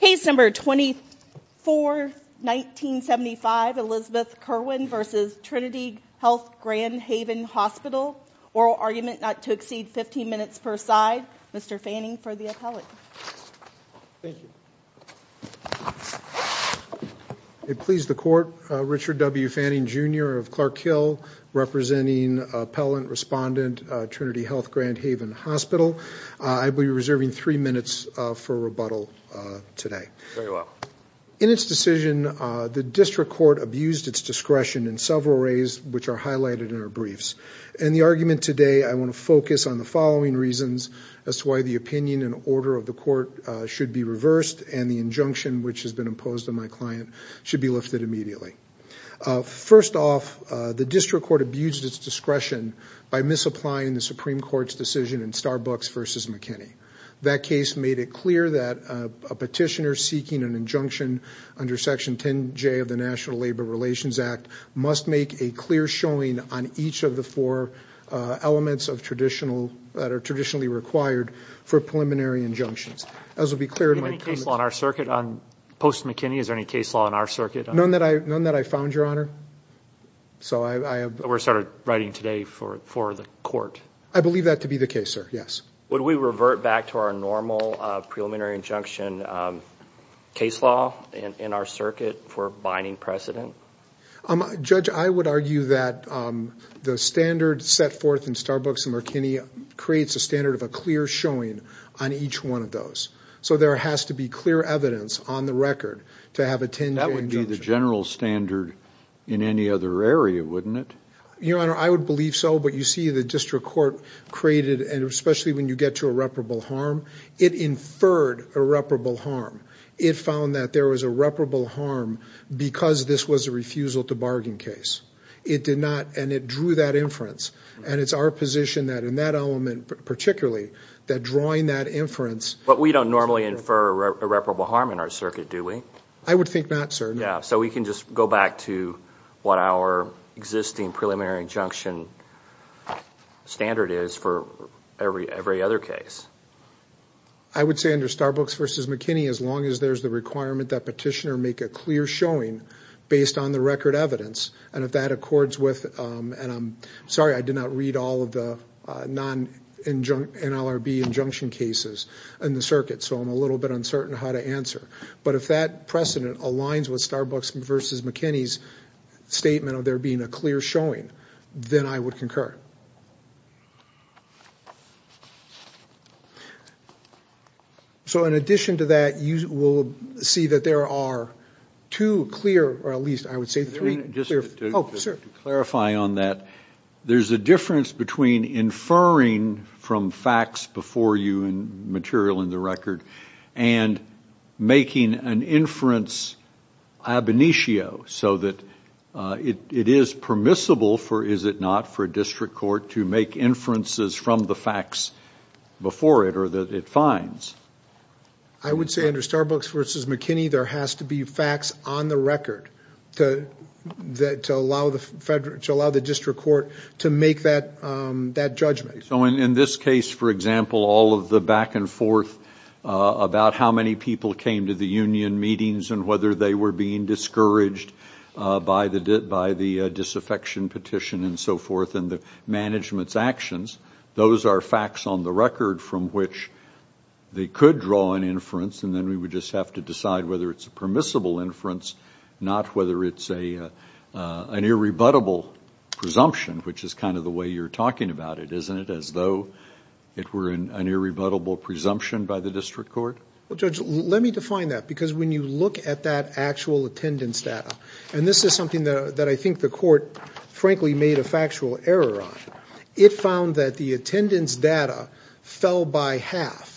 Case number 24-1975 Elizabeth Kerwin v. Trinity Health Grand Haven Hospital Oral argument not to exceed 15 minutes per side. Mr. Fanning for the appellate. It pleased the court Richard W Fanning jr. of Clark Hill representing appellant respondent Trinity Health Grand Haven Hospital. I will be reserving three minutes for rebuttal today. In its decision the district court abused its discretion in several ways which are highlighted in our briefs. In the argument today I want to focus on the following reasons as to why the opinion and order of the court should be reversed and the injunction which has been imposed on my client should be lifted immediately. First off the district court abused its discretion by misapplying the Supreme Court's decision in Starbucks v. McKinney. That case made it clear that a petitioner seeking an injunction under section 10 J of the National Labor Relations Act must make a clear showing on each of the four elements of traditional that are traditionally required for preliminary injunctions. As will be clear in my case on our circuit on post McKinney is there any case law in our circuit? None that I none that I found your honor. So I have we're started writing today for for the I believe that to be the case sir yes. Would we revert back to our normal preliminary injunction case law in our circuit for binding precedent? Judge I would argue that the standard set forth in Starbucks and McKinney creates a standard of a clear showing on each one of those. So there has to be clear evidence on the record to have a 10 J injunction. That would be the general standard in any other area wouldn't it? Your honor I would believe so but you see the district court created and especially when you get to irreparable harm it inferred irreparable harm. It found that there was a reputable harm because this was a refusal to bargain case. It did not and it drew that inference and it's our position that in that element particularly that drawing that inference But we don't normally infer irreparable harm in our circuit do we? I would think not sir. Yeah so we can just go back to what our existing preliminary injunction standard is for every every other case. I would say under Starbucks versus McKinney as long as there's the requirement that petitioner make a clear showing based on the record evidence and if that accords with and I'm sorry I did not read all of the non-NLRB injunction cases in the circuit so I'm a little bit uncertain how to answer but if that precedent aligns with Starbucks versus McKinney's statement of there being a clear showing then I would concur. So in addition to that you will see that there are two clear or at least I would say three. Just to clarify on that there's a difference between inferring from facts before you and material in the record and making an inference ab initio so that it is permissible for is it not for a district court to make inferences from the facts before it or that it finds. I would say under Starbucks versus McKinney there has to be facts on the record to that to allow the district court to make that that judgment. So in this case for example all of the back and forth about how many people came to the union meetings and whether they were being discouraged by the disaffection petition and so forth and the management's actions those are facts on the record from which they could draw an inference and then we would just have to decide whether it's a permissible inference not whether it's a an irrebuttable presumption which is kind of the way you're talking about it isn't it as though it were in an irrebuttable presumption by the district court. Well because when you look at that actual attendance data and this is something that I think the court frankly made a factual error on it found that the attendance data fell by half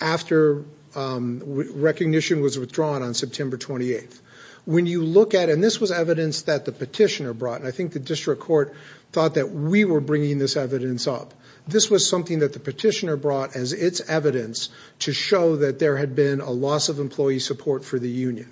after recognition was withdrawn on September 28th. When you look at and this was evidence that the petitioner brought and I think the district court thought that we were bringing this evidence up this was something that the petitioner brought as its evidence to show that there had been a loss of employee support for the union.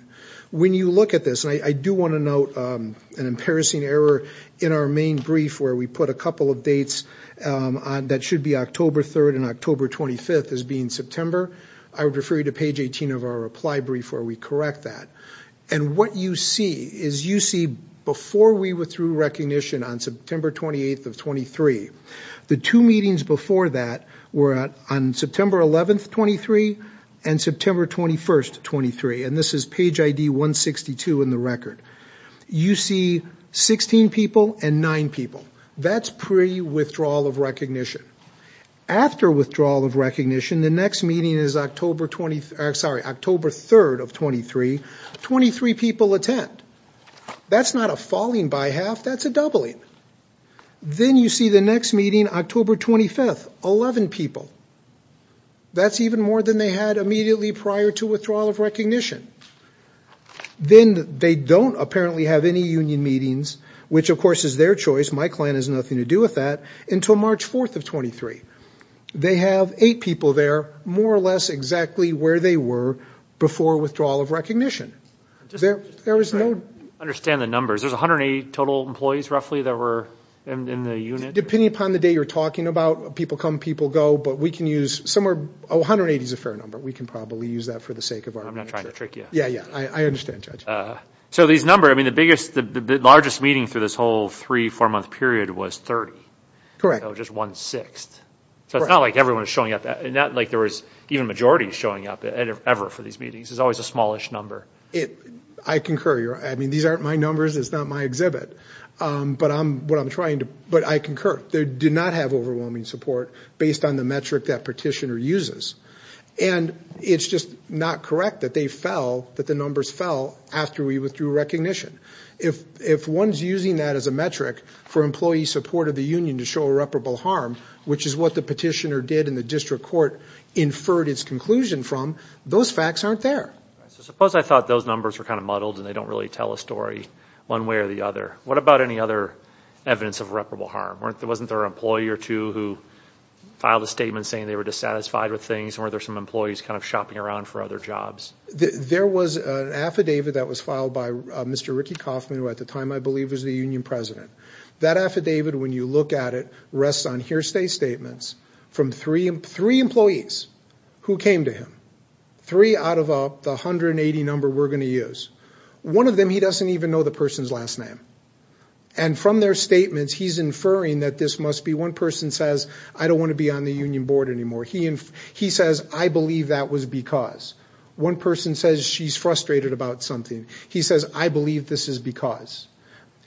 When you look at this and I do want to note an embarrassing error in our main brief where we put a couple of dates on that should be October 3rd and October 25th as being September I would refer you to page 18 of our reply brief where we correct that and what you see is you see before we withdrew recognition on September 28th of 23 the two meetings before that were at on September 11th 23 and September 21st 23 and this is page ID 162 in the record. You see 16 people and nine people that's pre withdrawal of recognition. After withdrawal of recognition the next meeting is October 23rd sorry October 3rd of 23. 23 people attend. That's not a falling by half that's a doubling. Then you see the next meeting October 25th. 11 people. That's even more than they had immediately prior to withdrawal of recognition. Then they don't apparently have any union meetings which of course is their choice my client has nothing to do with that until March 4th of 23. They have eight people there more or less exactly where they were before withdrawal of recognition. Understand the 180 total employees roughly that were in the unit. Depending upon the day you're talking about people come people go but we can use somewhere 180 is a fair number we can probably use that for the sake of our I'm not trying to trick you yeah yeah I understand judge. So these number I mean the biggest the largest meeting through this whole three four month period was 30. Correct. Just one sixth so it's not like everyone is showing up that and that like there was even majority showing up ever for these meetings there's always a smallish number. I concur I mean these aren't my numbers it's not my exhibit but I'm what I'm trying to but I concur they did not have overwhelming support based on the metric that petitioner uses and it's just not correct that they fell that the numbers fell after we withdrew recognition. If if one's using that as a metric for employee support of the union to show irreparable harm which is what the petitioner did in the district court inferred its conclusion from those facts aren't there. Suppose I thought those numbers were kind of muddled and they don't really tell a story one way or the other what about any other evidence of reputable harm weren't there wasn't there an employee or two who filed a statement saying they were dissatisfied with things or there's some employees kind of shopping around for other jobs. There was an affidavit that was filed by Mr. Ricky Kaufman who at the time I believe was the union president. That affidavit when you look at it rests on hearsay statements from three three employees who came to him three out of up the hundred and eighty number we're going to use. One of them he doesn't even know the person's last name and from their statements he's inferring that this must be one person says I don't want to be on the union board anymore he and he says I believe that was because one person says she's frustrated about something he says I believe this is because.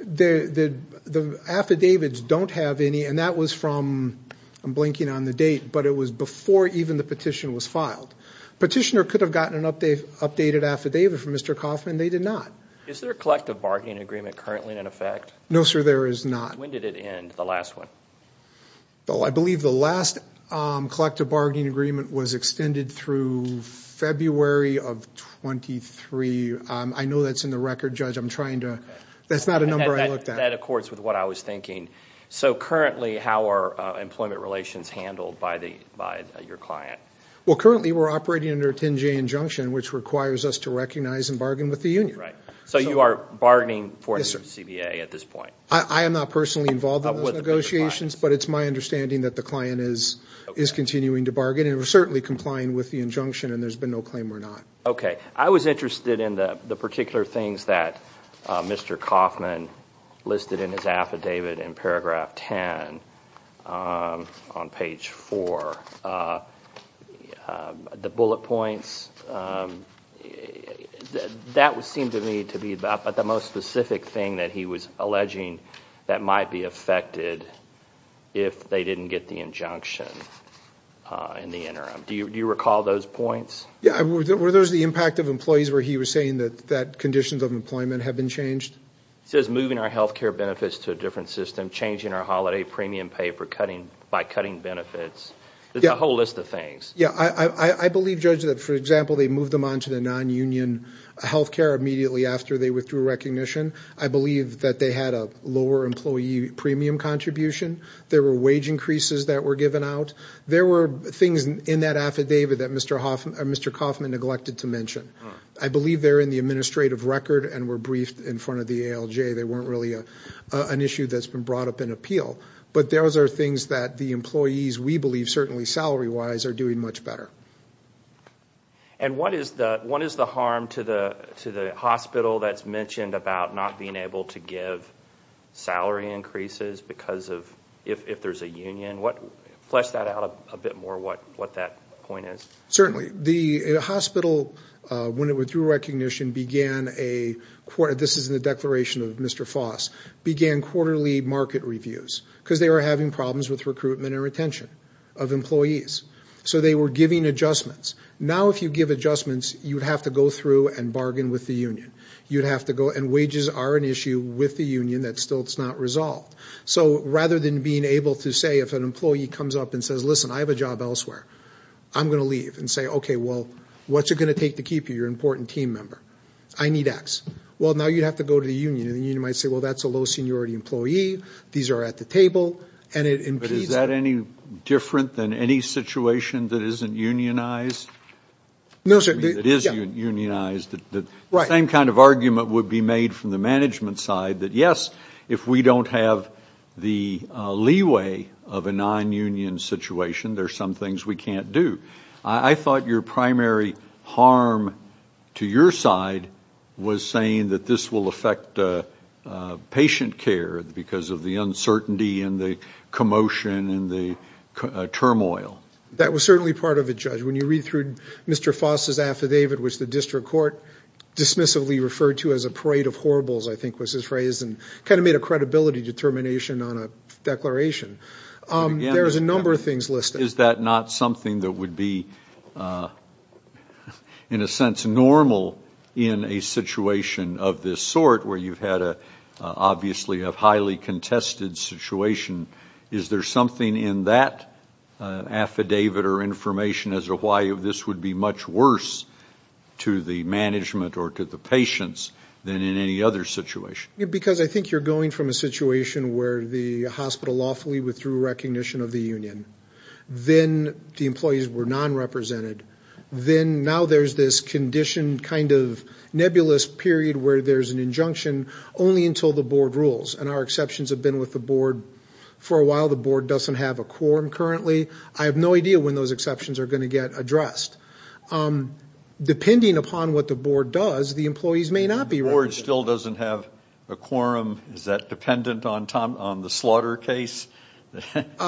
The the affidavits don't have any and that was from I'm blinking on the date but it was before even the petition was filed. Petitioner could have gotten an update updated affidavit from Mr. Kaufman they did not. Is there collective bargaining agreement currently in effect? No sir there is not. When did it end the last one? Well I believe the last collective bargaining agreement was extended through February of 23 I know that's in the record judge I'm trying to that's not a number I looked at. That accords with what I was thinking. So currently how are employment relations handled by the by your client? Well currently we're operating under a 10-J injunction which requires us to recognize and bargain with the union. Right so you are bargaining for CBA at this point? I am not personally involved with negotiations but it's my understanding that the client is is continuing to bargain and we're certainly complying with the injunction and there's been no claim or not. Okay I was interested in the the particular things that Mr. Kaufman listed in his affidavit in paragraph 10 on page 4. The bullet points that would seem to me to be about but the most specific thing that he was alleging that might be affected if they didn't get the injunction in the interim. Do you recall those points? Yeah were those the impact of employees where he was saying that conditions of employment have been changed? He says moving our health care benefits to a different system, changing our holiday premium pay for cutting by cutting benefits. There's a whole list of things. Yeah I believe judge that for example they moved them on to the non-union health care immediately after they withdrew recognition. I believe that they had a lower employee premium contribution. There were wage increases that were given out. There were things in that affidavit that Mr. Kaufman neglected to mention. I believe they're in the administrative record and were briefed in front of the ALJ. They weren't really a an issue that's been brought up in appeal but those are things that the employees we believe certainly salary-wise are doing much better. And what is the one is the harm to the to the hospital that's mentioned about not being able to give salary increases because of if there's a union what flesh that out a bit more what what that point is. Certainly the hospital when it withdrew recognition began a quarter this is in the declaration of Mr. Foss began quarterly market reviews because they were having problems with recruitment and retention of employees. So they were giving adjustments. Now if you give adjustments you'd have to go through and bargain with the union. You'd have to go and wages are an issue with the union that still it's not resolved. So rather than being able to say if an employee comes up and says listen I have a job elsewhere I'm gonna leave and say okay well what's it gonna take to keep you your important team member. I need X. Well now you'd have to go to the union and you might say well that's a low seniority employee. These are at the table and it is that any different than any situation that isn't unionized. No sir it is unionized. The same kind of argument would be made from the management side that yes if we don't have the leeway of a non-union situation there's some things we can't do. I thought your primary harm to your side was saying that this will affect patient care because of the uncertainty and the commotion and the turmoil. That was certainly part of a judge when you read through Mr. Foss's affidavit which the district court dismissively referred to as a parade of horribles I think was his phrase and kind of made a credibility determination on a declaration. There's a number of things listed. Is that not something that would be in a sense normal in a situation of this sort where you've had a obviously a highly contested situation? Is there something in that affidavit or information as to why this would be much worse to the management or to the patients than in any other situation? Because I think you're going from a situation where the hospital lawfully withdrew recognition of the union. Then the employees were non-represented. Then now there's this condition kind of nebulous period where there's an injunction only until the board rules and our exceptions have been with the board for a while. The board doesn't have a quorum currently. I have no idea when those exceptions are going to get addressed. Depending upon what the board does the employees may not be The board still doesn't have a quorum. Is that dependent on the slaughter case? If it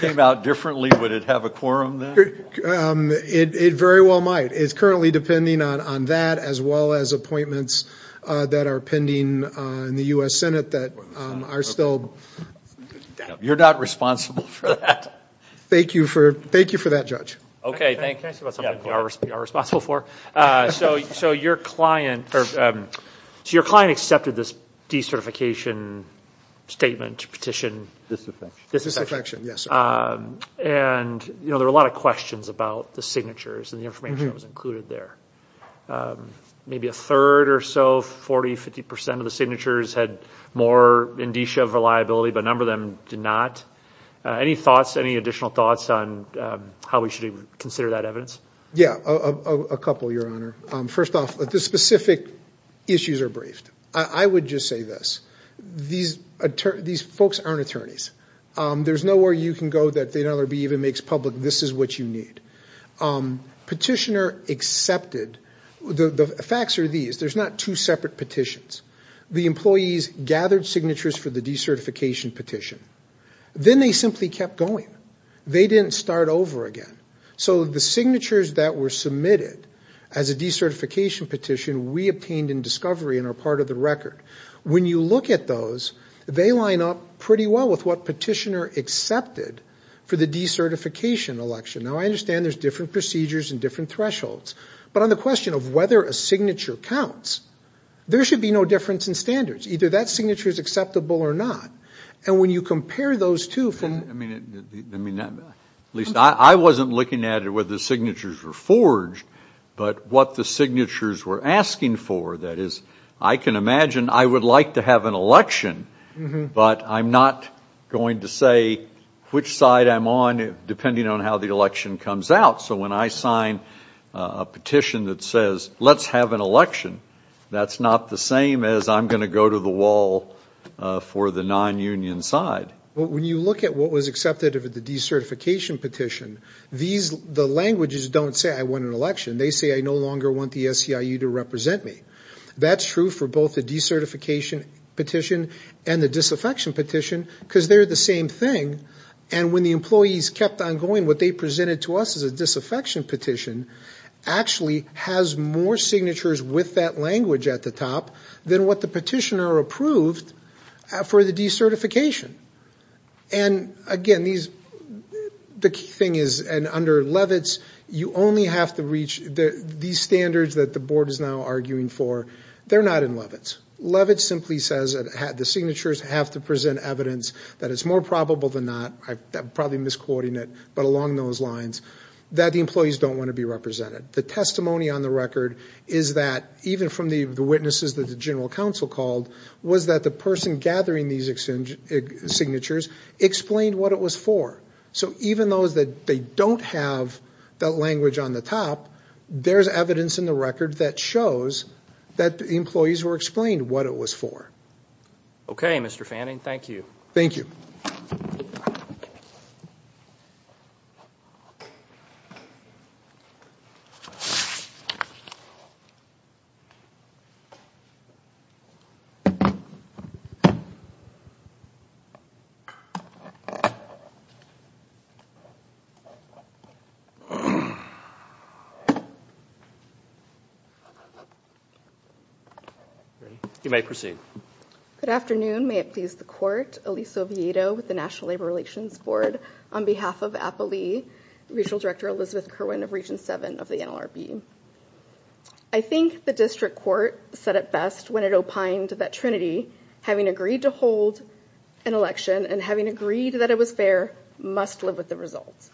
came out differently would it have a quorum then? It very well might. It's currently depending on that as well as appointments that are pending in the U.S. Senate that are still... You're not responsible for that. Thank you for that judge. Okay, thank you. So your client accepted this decertification statement petition. Disaffection. And you know there are a lot of questions about the signatures and the information was included there. Maybe a third or so, 40-50% of the signatures had more indicia of reliability but a number of them did not. Any thoughts, any additional thoughts on how we should consider that evidence? Yeah, a couple, your honor. First off, the specific issues are briefed. I would just say this. These folks aren't attorneys. There's nowhere you can go that they don't even make public this is what you need. Petitioner accepted. The facts are these. There's not two separate petitions. The employees gathered signatures for the decertification petition. Then they simply kept going. They didn't start over again. So the signatures that were submitted as a decertification petition we obtained in discovery and are part of the record. When you look at those, they line up pretty well with what petitioner accepted for the decertification election. Now I understand there's different procedures and different thresholds, but on the question of whether a signature counts, there should be no difference in standards. Either that signature is acceptable or not. And when you compare those two from... At least I wasn't looking at it whether the signatures were forged, but what the signatures were asking for, that is, I can imagine I would like to have an election, but I'm not going to say which side I'm on depending on how the election comes out. So when I sign a petition that says let's have an election, that's not the same as I'm going to go to the wall for the non-union side. When you look at what was accepted of the decertification petition, the languages don't say I won an election. They say I no longer want the SEIU to represent me. That's true for both the decertification petition and the disaffection petition because they're the same thing. And when the employees kept on going, what they presented to us as a disaffection petition actually has more signatures with that language at the top than what the petitioner approved for the decertification. And again, the thing is, and under Levitz, you only have to reach these standards that the board is now arguing for. They're not in Levitz. Levitz simply says that the signatures have to present evidence that it's more probable than not. I'm don't want to be represented. The testimony on the record is that even from the witnesses that the General Counsel called, was that the person gathering these signatures explained what it was for. So even though that they don't have that language on the top, there's evidence in the record that shows that the employees were explained what it was for. Okay, Mr. Fanning, thank you. Thank you. You may proceed. Good afternoon. May it please the court, Elise Oviedo with the National Labor Relations Board, on behalf of Appalee Regional Director Elizabeth Kerwin of Region 7 of the NLRB. I think the district court said it best when it opined that Trinity, having agreed to hold an election and having agreed that it was fair, must live with the results.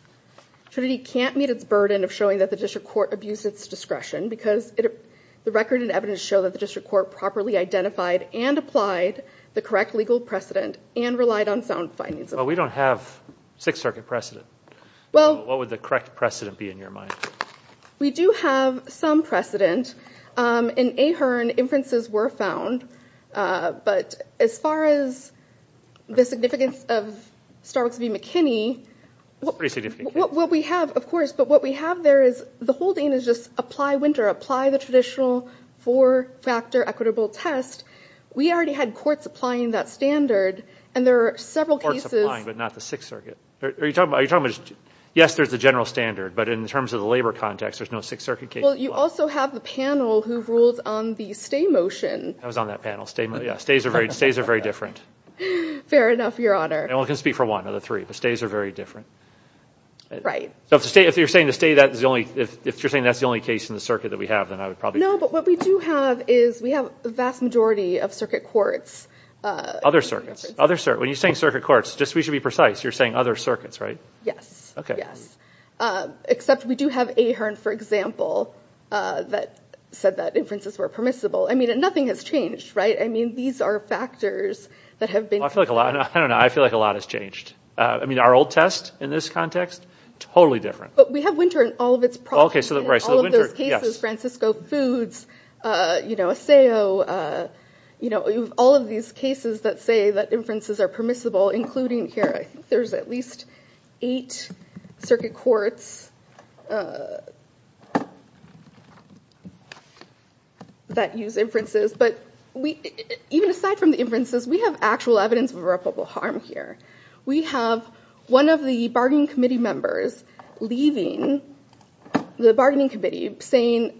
Trinity can't meet its burden of showing that the district court abused its discretion because the record and evidence show that the district court properly identified and applied the correct legal precedent and relied on sound findings. Well, we don't have Sixth Circuit precedent. Well, what would the correct precedent be in your mind? We do have some precedent. In Ahern, inferences were found, but as far as the significance of Starbucks v. McKinney, what we have, of course, but what we have there is the whole thing is just apply winter, apply the traditional four-factor equitable test. We already had courts applying that standard and there are several cases. Are you talking about, yes, there's the general standard, but in terms of the labor context, there's no Sixth Circuit case. Well, you also have the panel who ruled on the stay motion. I was on that panel. Stays are very different. Fair enough, your Honor. I can only speak for one of the three, but stays are very different. Right. So if you're saying the stay, that's the only, if you're saying that's the only case in the circuit that we have, then I would probably. No, but what we do have is we have the vast majority of circuit courts. Other circuit, when you're saying circuit courts, just we should be precise, you're saying other circuits, right? Yes. Okay. Yes, except we do have Ahern, for example, that said that inferences were permissible. I mean, nothing has changed, right? I mean, these are factors that have been. I feel like a lot, I don't know, I feel like a lot has changed. I mean, our old test in this context, totally different. But we have winter in all of its. Okay, so the winter, yes. Francisco Foods, you know, Paseo, you know, all of these cases that say that inferences are permissible, including here, I think there's at least eight circuit courts that use inferences. But we, even aside from the inferences, we have actual evidence of irreparable harm here. We have one of the bargaining committee members leaving the bargaining committee saying,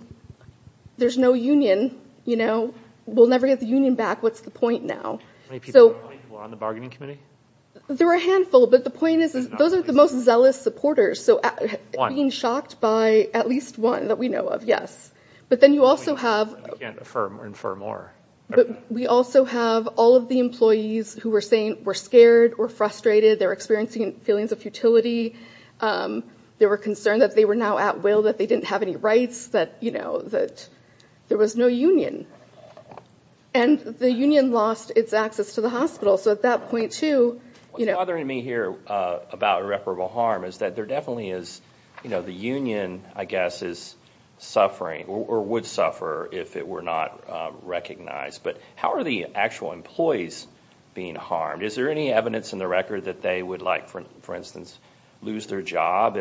there's no union, you know, we'll never get the union back, what's the point now? There were a handful, but the point is, those are the most zealous supporters, so being shocked by at least one that we know of, yes. But then you also have, but we also have all of the employees who were saying we're scared or frustrated, they're experiencing feelings of futility, they were concerned that they were now at will, that they didn't have any rights, that, you know, that there was no union. And the union lost its access to the hospital, so at that point, too, you know. What's bothering me here about irreparable harm is that there definitely is, you know, the union, I guess, is suffering or would suffer if it were not recognized. But how are the actual employees being harmed? Is there any evidence in the record that they would like, for instance, lose their job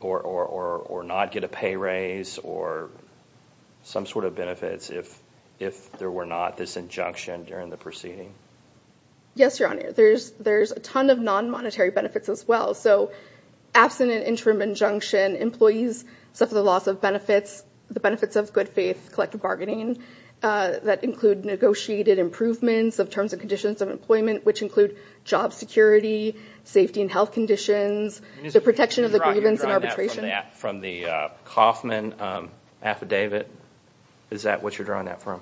or not get a pay raise or some sort of benefits if there were not this injunction during the proceeding? Yes, your honor, there's a ton of non-monetary benefits as well. So, absent an interim injunction, employees suffer the loss of benefits, the benefits of good-faith collective bargaining that include negotiated improvements of terms and conditions of employment, which include job security, safety and health conditions, the protection of the grievance and arbitration. From the Kaufman affidavit, is that what you're drawing that from?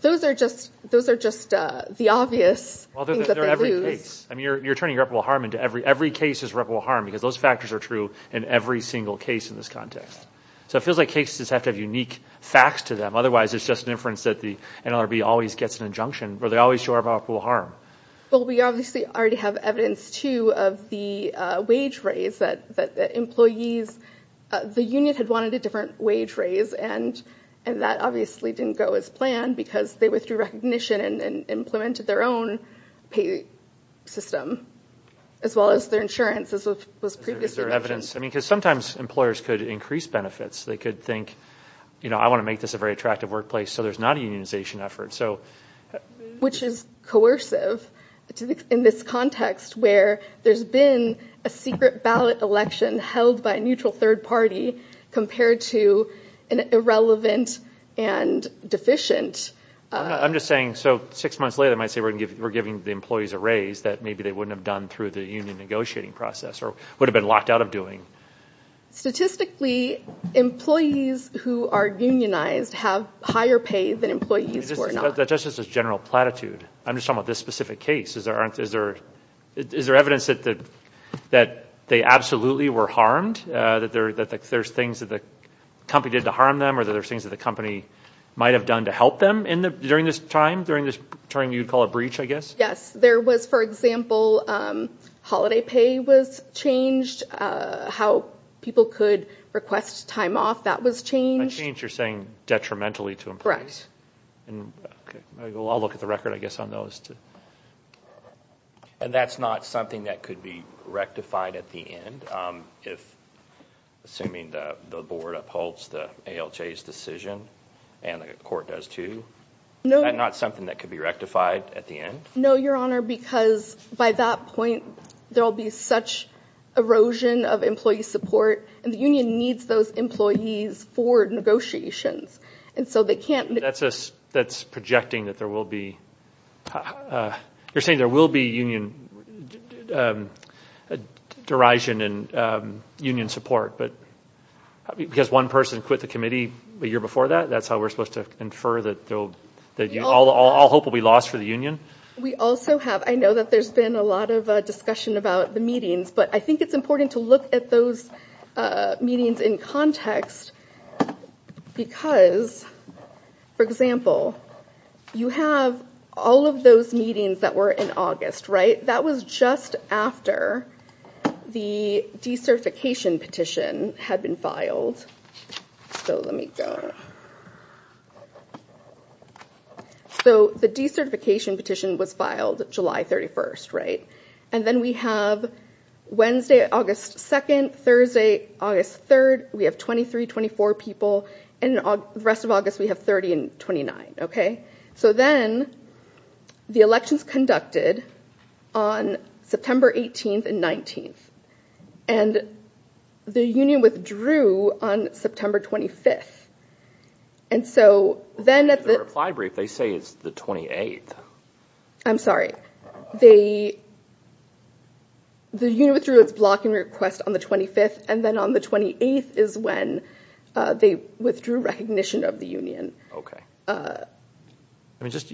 Those are just, those are just the obvious things that they lose. I mean, you're turning irreparable harm into every, every case is irreparable harm because those factors are true in every single case in this context. So it feels like cases have to have unique facts to them, otherwise it's just an inference that the NLRB always gets an injunction, or they always show irreparable harm. Well, we obviously already have evidence, too, of the wage raise that employees, the union had wanted a different wage raise and that obviously didn't go as planned because they withdrew recognition and implemented their own pay system, as well as their insurance, as was previously mentioned. Is there evidence? I mean, because sometimes employers could increase benefits. They could think, you know, I want to make this a very attractive workplace, so there's not a unionization effort, so. Which is coercive in this context where there's been a secret ballot election held by a neutral third party compared to an irrelevant and deficient. I'm just saying, so six months later, I might say we're giving the employees a raise that maybe they wouldn't have done through the union negotiating process or would have been locked out of doing. Statistically, employees who are unionized have higher pay than employees who are not. That's just a general platitude. I'm just talking about this specific case. Is there evidence that they absolutely were harmed, that there's things that the company did to harm them, or there's things that the company might have done to help them during this time, during this turn you'd call a breach, I guess? Yes, there was, for example, holiday pay was changed, how people could request time off, that was changed. A change, you're saying, detrimentally to employees? Correct. I'll look at the record, I guess, on those. And that's not something that could be rectified at the end, assuming the board upholds the ALJ's decision and the court does too? No. That's not something that could be rectified at the end? No, Your Honor, because by that point, there'll be such erosion of employee support and the union needs those employees for negotiations, and so they can't... That's projecting that there will be, you're saying there will be union derision and union support, but because one person quit the committee a year before that, that's how we're supposed to infer that all hope will be lost for the union? We also have, I know that there's been a lot of discussion about the meetings, but I think it's important to look at those meetings in context because, for example, you have all of those meetings that were in August, right? That was just after the decertification petition had been filed. So let me go... So the decertification petition was filed July 31st, right? And then we have Wednesday, August 2nd, Thursday, August 3rd, we have 23, 24 people, and the rest of August we have 30 and 29, okay? So then the elections conducted on September 18th and 19th, and the union withdrew on September 25th, and so then... The reply brief, they say it's the 28th. I'm sorry. The union withdrew its blocking request on the 25th, and then on the 28th is when they withdrew recognition of the union. Okay. I mean, just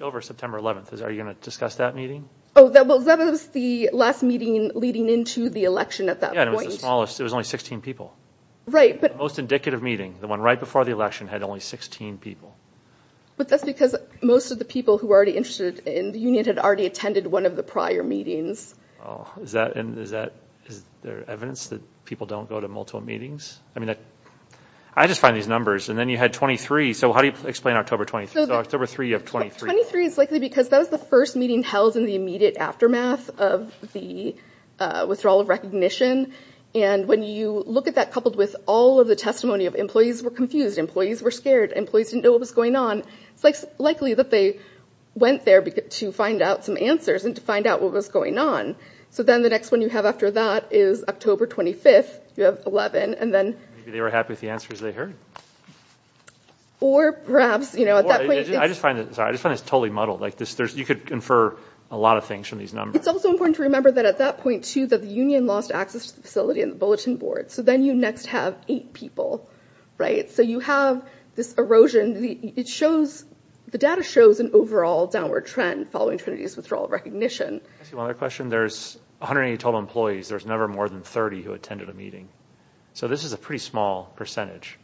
over September 11th, are you going to discuss that meeting? Oh, that was the last meeting leading into the election at that point. Yeah, it was the smallest, it was only 16 people. Right, but... The most indicative meeting, the one right before the election, had only 16 people. But that's because most of the people who were already interested in the union had already attended one of the prior meetings. Oh, is that... Is there evidence that people don't go to multiple meetings? I mean, I just find these numbers, and then you had 23, so how do you explain October 23rd? So October 3rd, you have 23. 23 is likely because that was the first meeting held in the immediate aftermath of the withdrawal of recognition, and when you look at that coupled with all of the testimony of employees who were confused, employees were scared, employees didn't know what was going on, it's likely that they went there to find out some answers and to find out what was going on. So then the next one you have after that is October 25th, you have 11, and then... Maybe they were happy with the answers they heard. Or perhaps, you know, at that point... I just find this totally muddled. Like, you could infer a lot of things from these numbers. It's also important to remember that at that point, too, that the union lost access to the facility and the bulletin board. So then you next have eight people, right? So you have this erosion. The data shows an overall downward trend following Trinity's withdrawal of recognition. I see one other question. There's 180 total employees. There's never more than 30 who attended a meeting. So this is a pretty small percentage.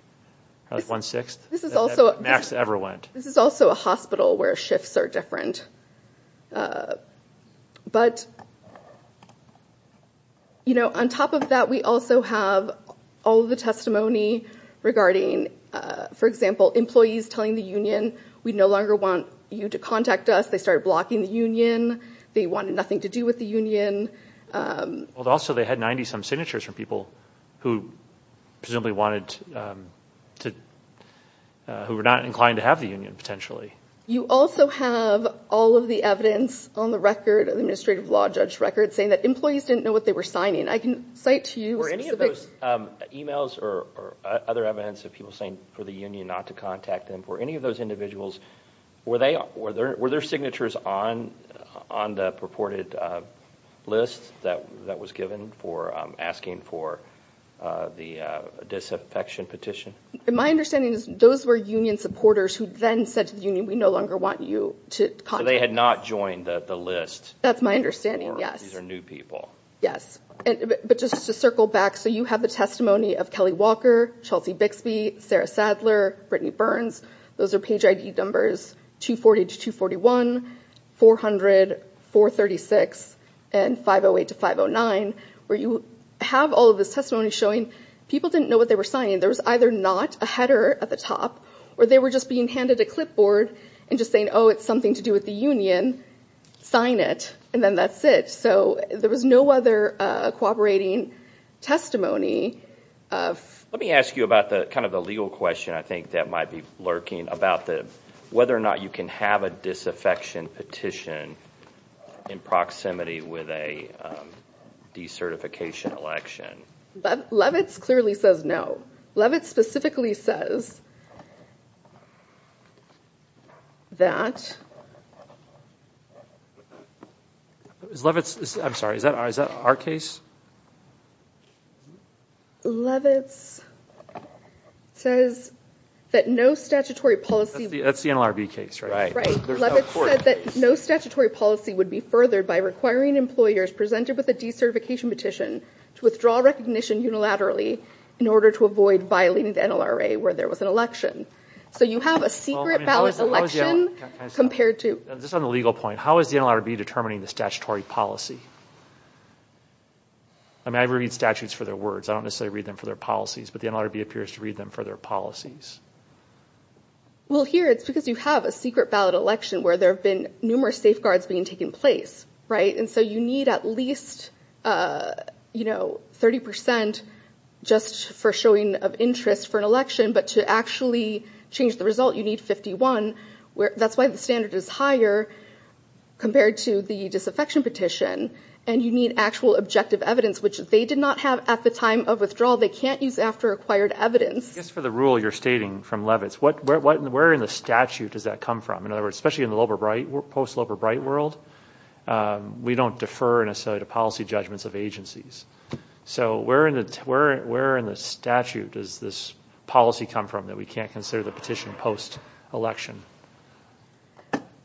That was one-sixth that Max ever went. This is also a hospital where shifts are different. But, you know, on top of that, we also have all the testimony regarding, for example, employees telling the union we no longer want you to contact us. They started blocking the union. They wanted nothing to do with the union. Also, they had 90-some signatures from people who presumably wanted to... who were not inclined to have the union, potentially. You also have all of the evidence on the record, the administrative law judge record, saying that employees didn't know what they were signing. I can cite to you specific... Were any of those emails or other evidence of people saying for the union not to contact them, for any of those individuals, were their signatures on the purported list that was given for asking for the disaffection petition? My understanding is those were union supporters who then said to the union, we no longer want you to contact us. So they had not joined the list. That's my understanding, yes. These are new people. Yes, but just to circle back, so you have the testimony of Kelly Walker, Chelsea Bixby, Sarah Sadler, Brittany Burns. Those are page ID numbers 240 to 241, 400, 436, and 508 to 509, where you have all of this testimony showing people didn't know what they were signing. There was either not a header at the top, or they were just being handed a clipboard and just saying, oh it's something to do with the union, sign it, and then that's it. So there was no other cooperating testimony. Let me ask you about the kind of the legal question I think that might be lurking, about whether or not you can have a disaffection petition in proximity with a decertification election. Levitz clearly says no. Levitz specifically says that no statutory policy would be furthered by requiring employers presented with a decertification petition to withdraw recognition unilaterally in order to avoid violating the NLRA where there was an election. So you have a secret ballot election compared to... Just on the legal point, how is the NLRB determining the statutory policy? I mean I read statutes for their words, I don't necessarily read them for their policies, but the NLRB appears to read them for their policies. Well here it's because you have a secret ballot election where there have been numerous safeguards being taken place, right? And so you need at least, you know, 30% just for showing of interest for an election, but to actually change the result you need 51. That's why the standard is higher compared to the disaffection petition, and you need actual objective evidence, which they did not have at the time of withdrawal. They can't use after acquired evidence. Just for the rule you're stating from Levitz, where in the statute does that come from? In other bright world, we don't defer necessarily to policy judgments of agencies. So where in the statute does this policy come from that we can't consider the petition post-election?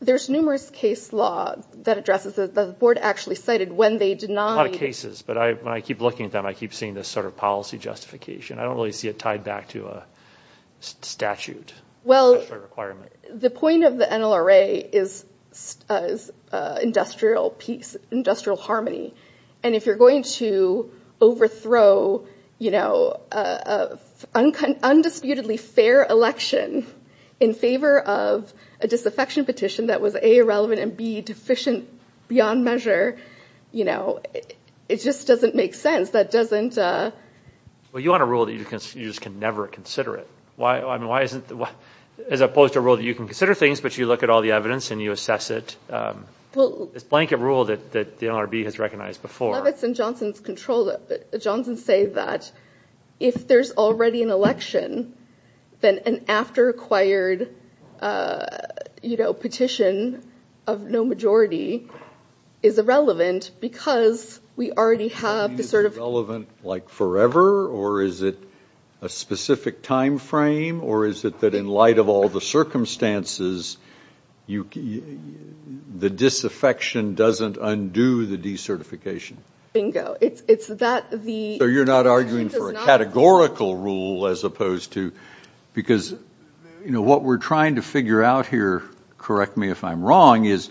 There's numerous case law that addresses that the board actually cited when they did not... A lot of cases, but I keep looking at them I keep seeing this sort of policy justification. I don't really see it tied back to a statute. Well, the point of the NLRA is industrial peace, industrial harmony, and if you're going to overthrow, you know, an undisputedly fair election in favor of a disaffection petition that was A, irrelevant, and B, deficient beyond measure, you know, it just doesn't make sense. That doesn't... Well, you want a rule that you just can never consider it. Why, I mean, why isn't... as opposed to a rule that you can consider things, but you look at all the evidence and you assess it. It's blanket rule that the NRB has recognized before. Levitz and Johnson's control... Johnson's say that if there's already an election, then an after acquired, you know, petition of no majority is irrelevant because we already have the sort of... Relevant like forever, or is it a specific time frame, or is it that in light of all the circumstances, the disaffection doesn't undo the decertification? Bingo. It's that the... So you're not arguing for a categorical rule as opposed to... because, you know, what we're trying to figure out here, correct me if I'm wrong, is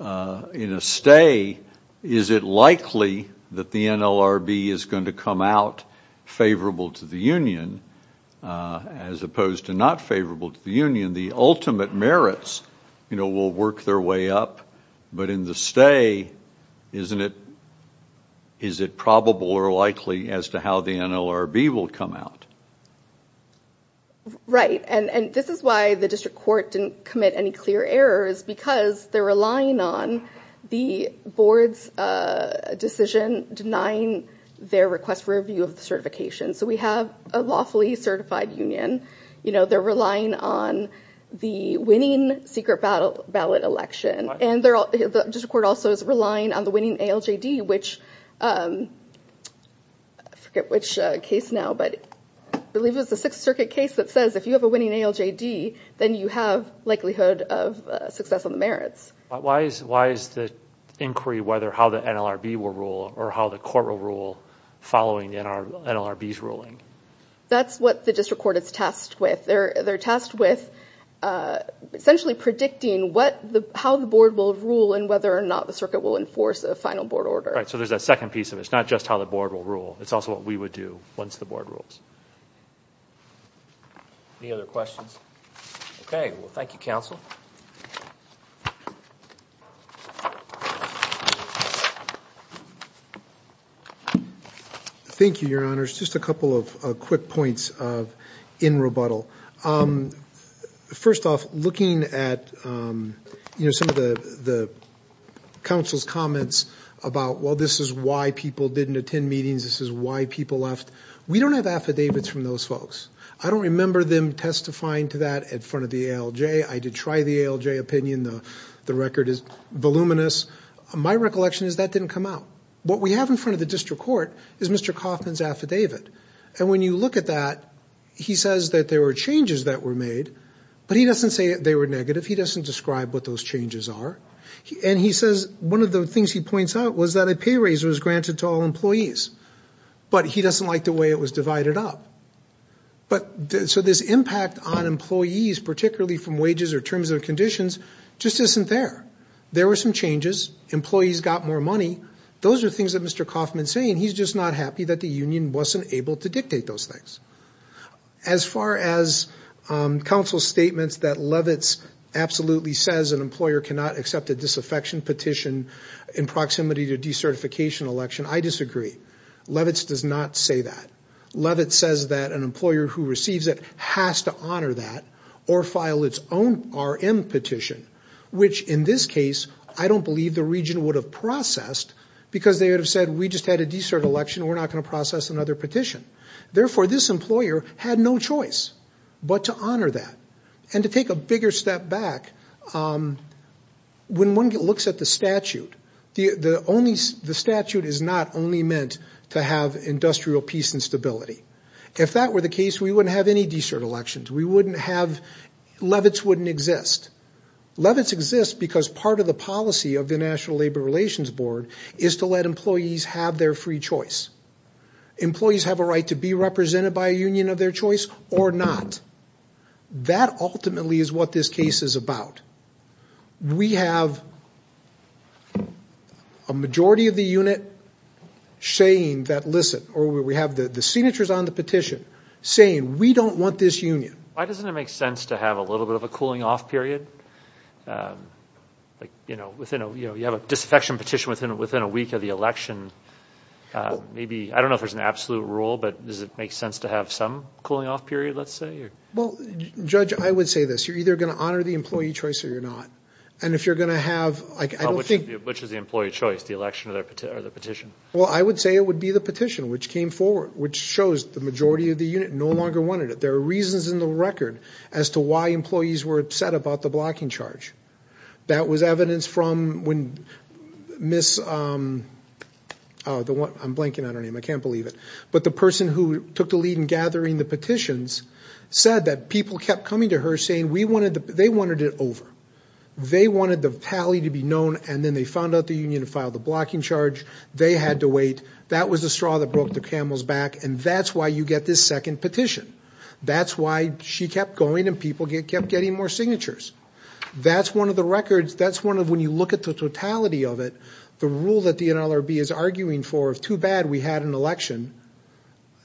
in a stay, is it likely that the NLRB is going to come out favorable to the Union, as opposed to not favorable to the Union? The ultimate merits, you know, will work their way up, but in the stay, isn't it, is it probable or likely as to how the NLRB will come out? Right, and this is why the district court didn't commit any clear errors, because they're relying on the board's decision denying their request for review of the certification. So we have a lawfully certified Union, you know, they're relying on the winning secret ballot election, and the district court also is relying on the winning ALJD, which... I forget which case now, but I believe it was the Sixth Circuit case that says if you have a winning ALJD, then you have likelihood of success on the merits. Why is the inquiry whether how the NLRB will rule or how the court will rule following the NLRB's ruling? That's what the district court is tasked with. They're tasked with essentially predicting how the board will rule and whether or not the circuit will enforce a final board order. Right, so there's a second piece of it. It's not just how the board will rule, it's also what we would do once the board rules. Any other questions? Okay, well thank you, counsel. Thank you, Your Honors. Just a couple of quick points in rebuttal. First off, looking at, you know, some of the counsel's comments about, well, this is why people didn't attend meetings, this is why people left. We don't have affidavits from those folks. I don't remember them testifying to that in front of the ALJ. I did try the ALJ opinion. The record is voluminous. My recollection is that didn't come out. What we have in front of the district court is Mr. Kaufman's affidavit, and when you look at that, he says that there were changes that were made, but he doesn't say they were negative. He doesn't describe what those changes are, and he says one of the things he points out was that a pay raise was granted to all employees, but he doesn't like the way it was divided up, but so this impact on employees, particularly from wages or terms of conditions, just isn't there. There were some changes. Employees got more money. Those are things that Mr. Kaufman's saying. He's just not happy that the union wasn't able to dictate those things. As far as counsel's statements that Levitz absolutely says an employer cannot accept a disaffection petition in proximity to decertification election, I disagree. Levitz does not say that. Levitz says that an employer who receives it has to honor that or file its own RM petition, which in this case, I don't believe the region would have processed because they would have said we just had a de-cert election. We're not going to process another petition. Therefore, this employer had no choice but to honor that and to take a bigger step back. When one looks at the statute the statute is not only meant to have industrial peace and stability. If that were the case, we wouldn't have any de-cert elections. We wouldn't have... Levitz wouldn't exist. Levitz exists because part of the policy of the National Labor Relations Board is to let employees have their free choice. Employees have a right to be represented by a union of their choice or not. That ultimately is what this case is about. We have a majority of the unit saying that listen or we have the signatures on the petition saying we don't want this union. Why doesn't it make sense to have a little bit of a cooling off period? You have a disaffection petition within a week of the election. I don't know if there's an absolute rule, but does it make sense to have some cooling off period? Judge, I would say this. You're either going to honor the employee choice or you're not. Which is the employee choice? The election or the petition? I would say it would be the petition which came forward which shows the majority of the unit no longer wanted it. There are reasons in the record as to why employees were upset about the blocking charge. That was evidence from when Miss... I'm blanking on her name. I believe in gathering the petitions said that people kept coming to her saying they wanted it over. They wanted the tally to be known and then they found out the union filed the blocking charge. They had to wait. That was the straw that broke the camel's back and that's why you get this second petition. That's why she kept going and people kept getting more signatures. That's one of the records. That's one of when you look at the totality of it, the rule that the election,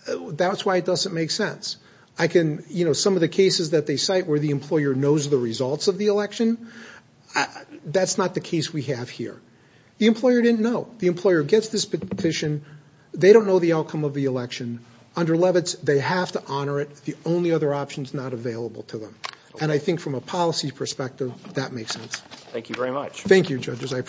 that's why it doesn't make sense. I can, you know, some of the cases that they cite where the employer knows the results of the election, that's not the case we have here. The employer didn't know. The employer gets this petition. They don't know the outcome of the election. Under Levitz, they have to honor it. The only other option is not available to them and I think from a policy perspective that makes sense. Thank you very much. Thank you judges. I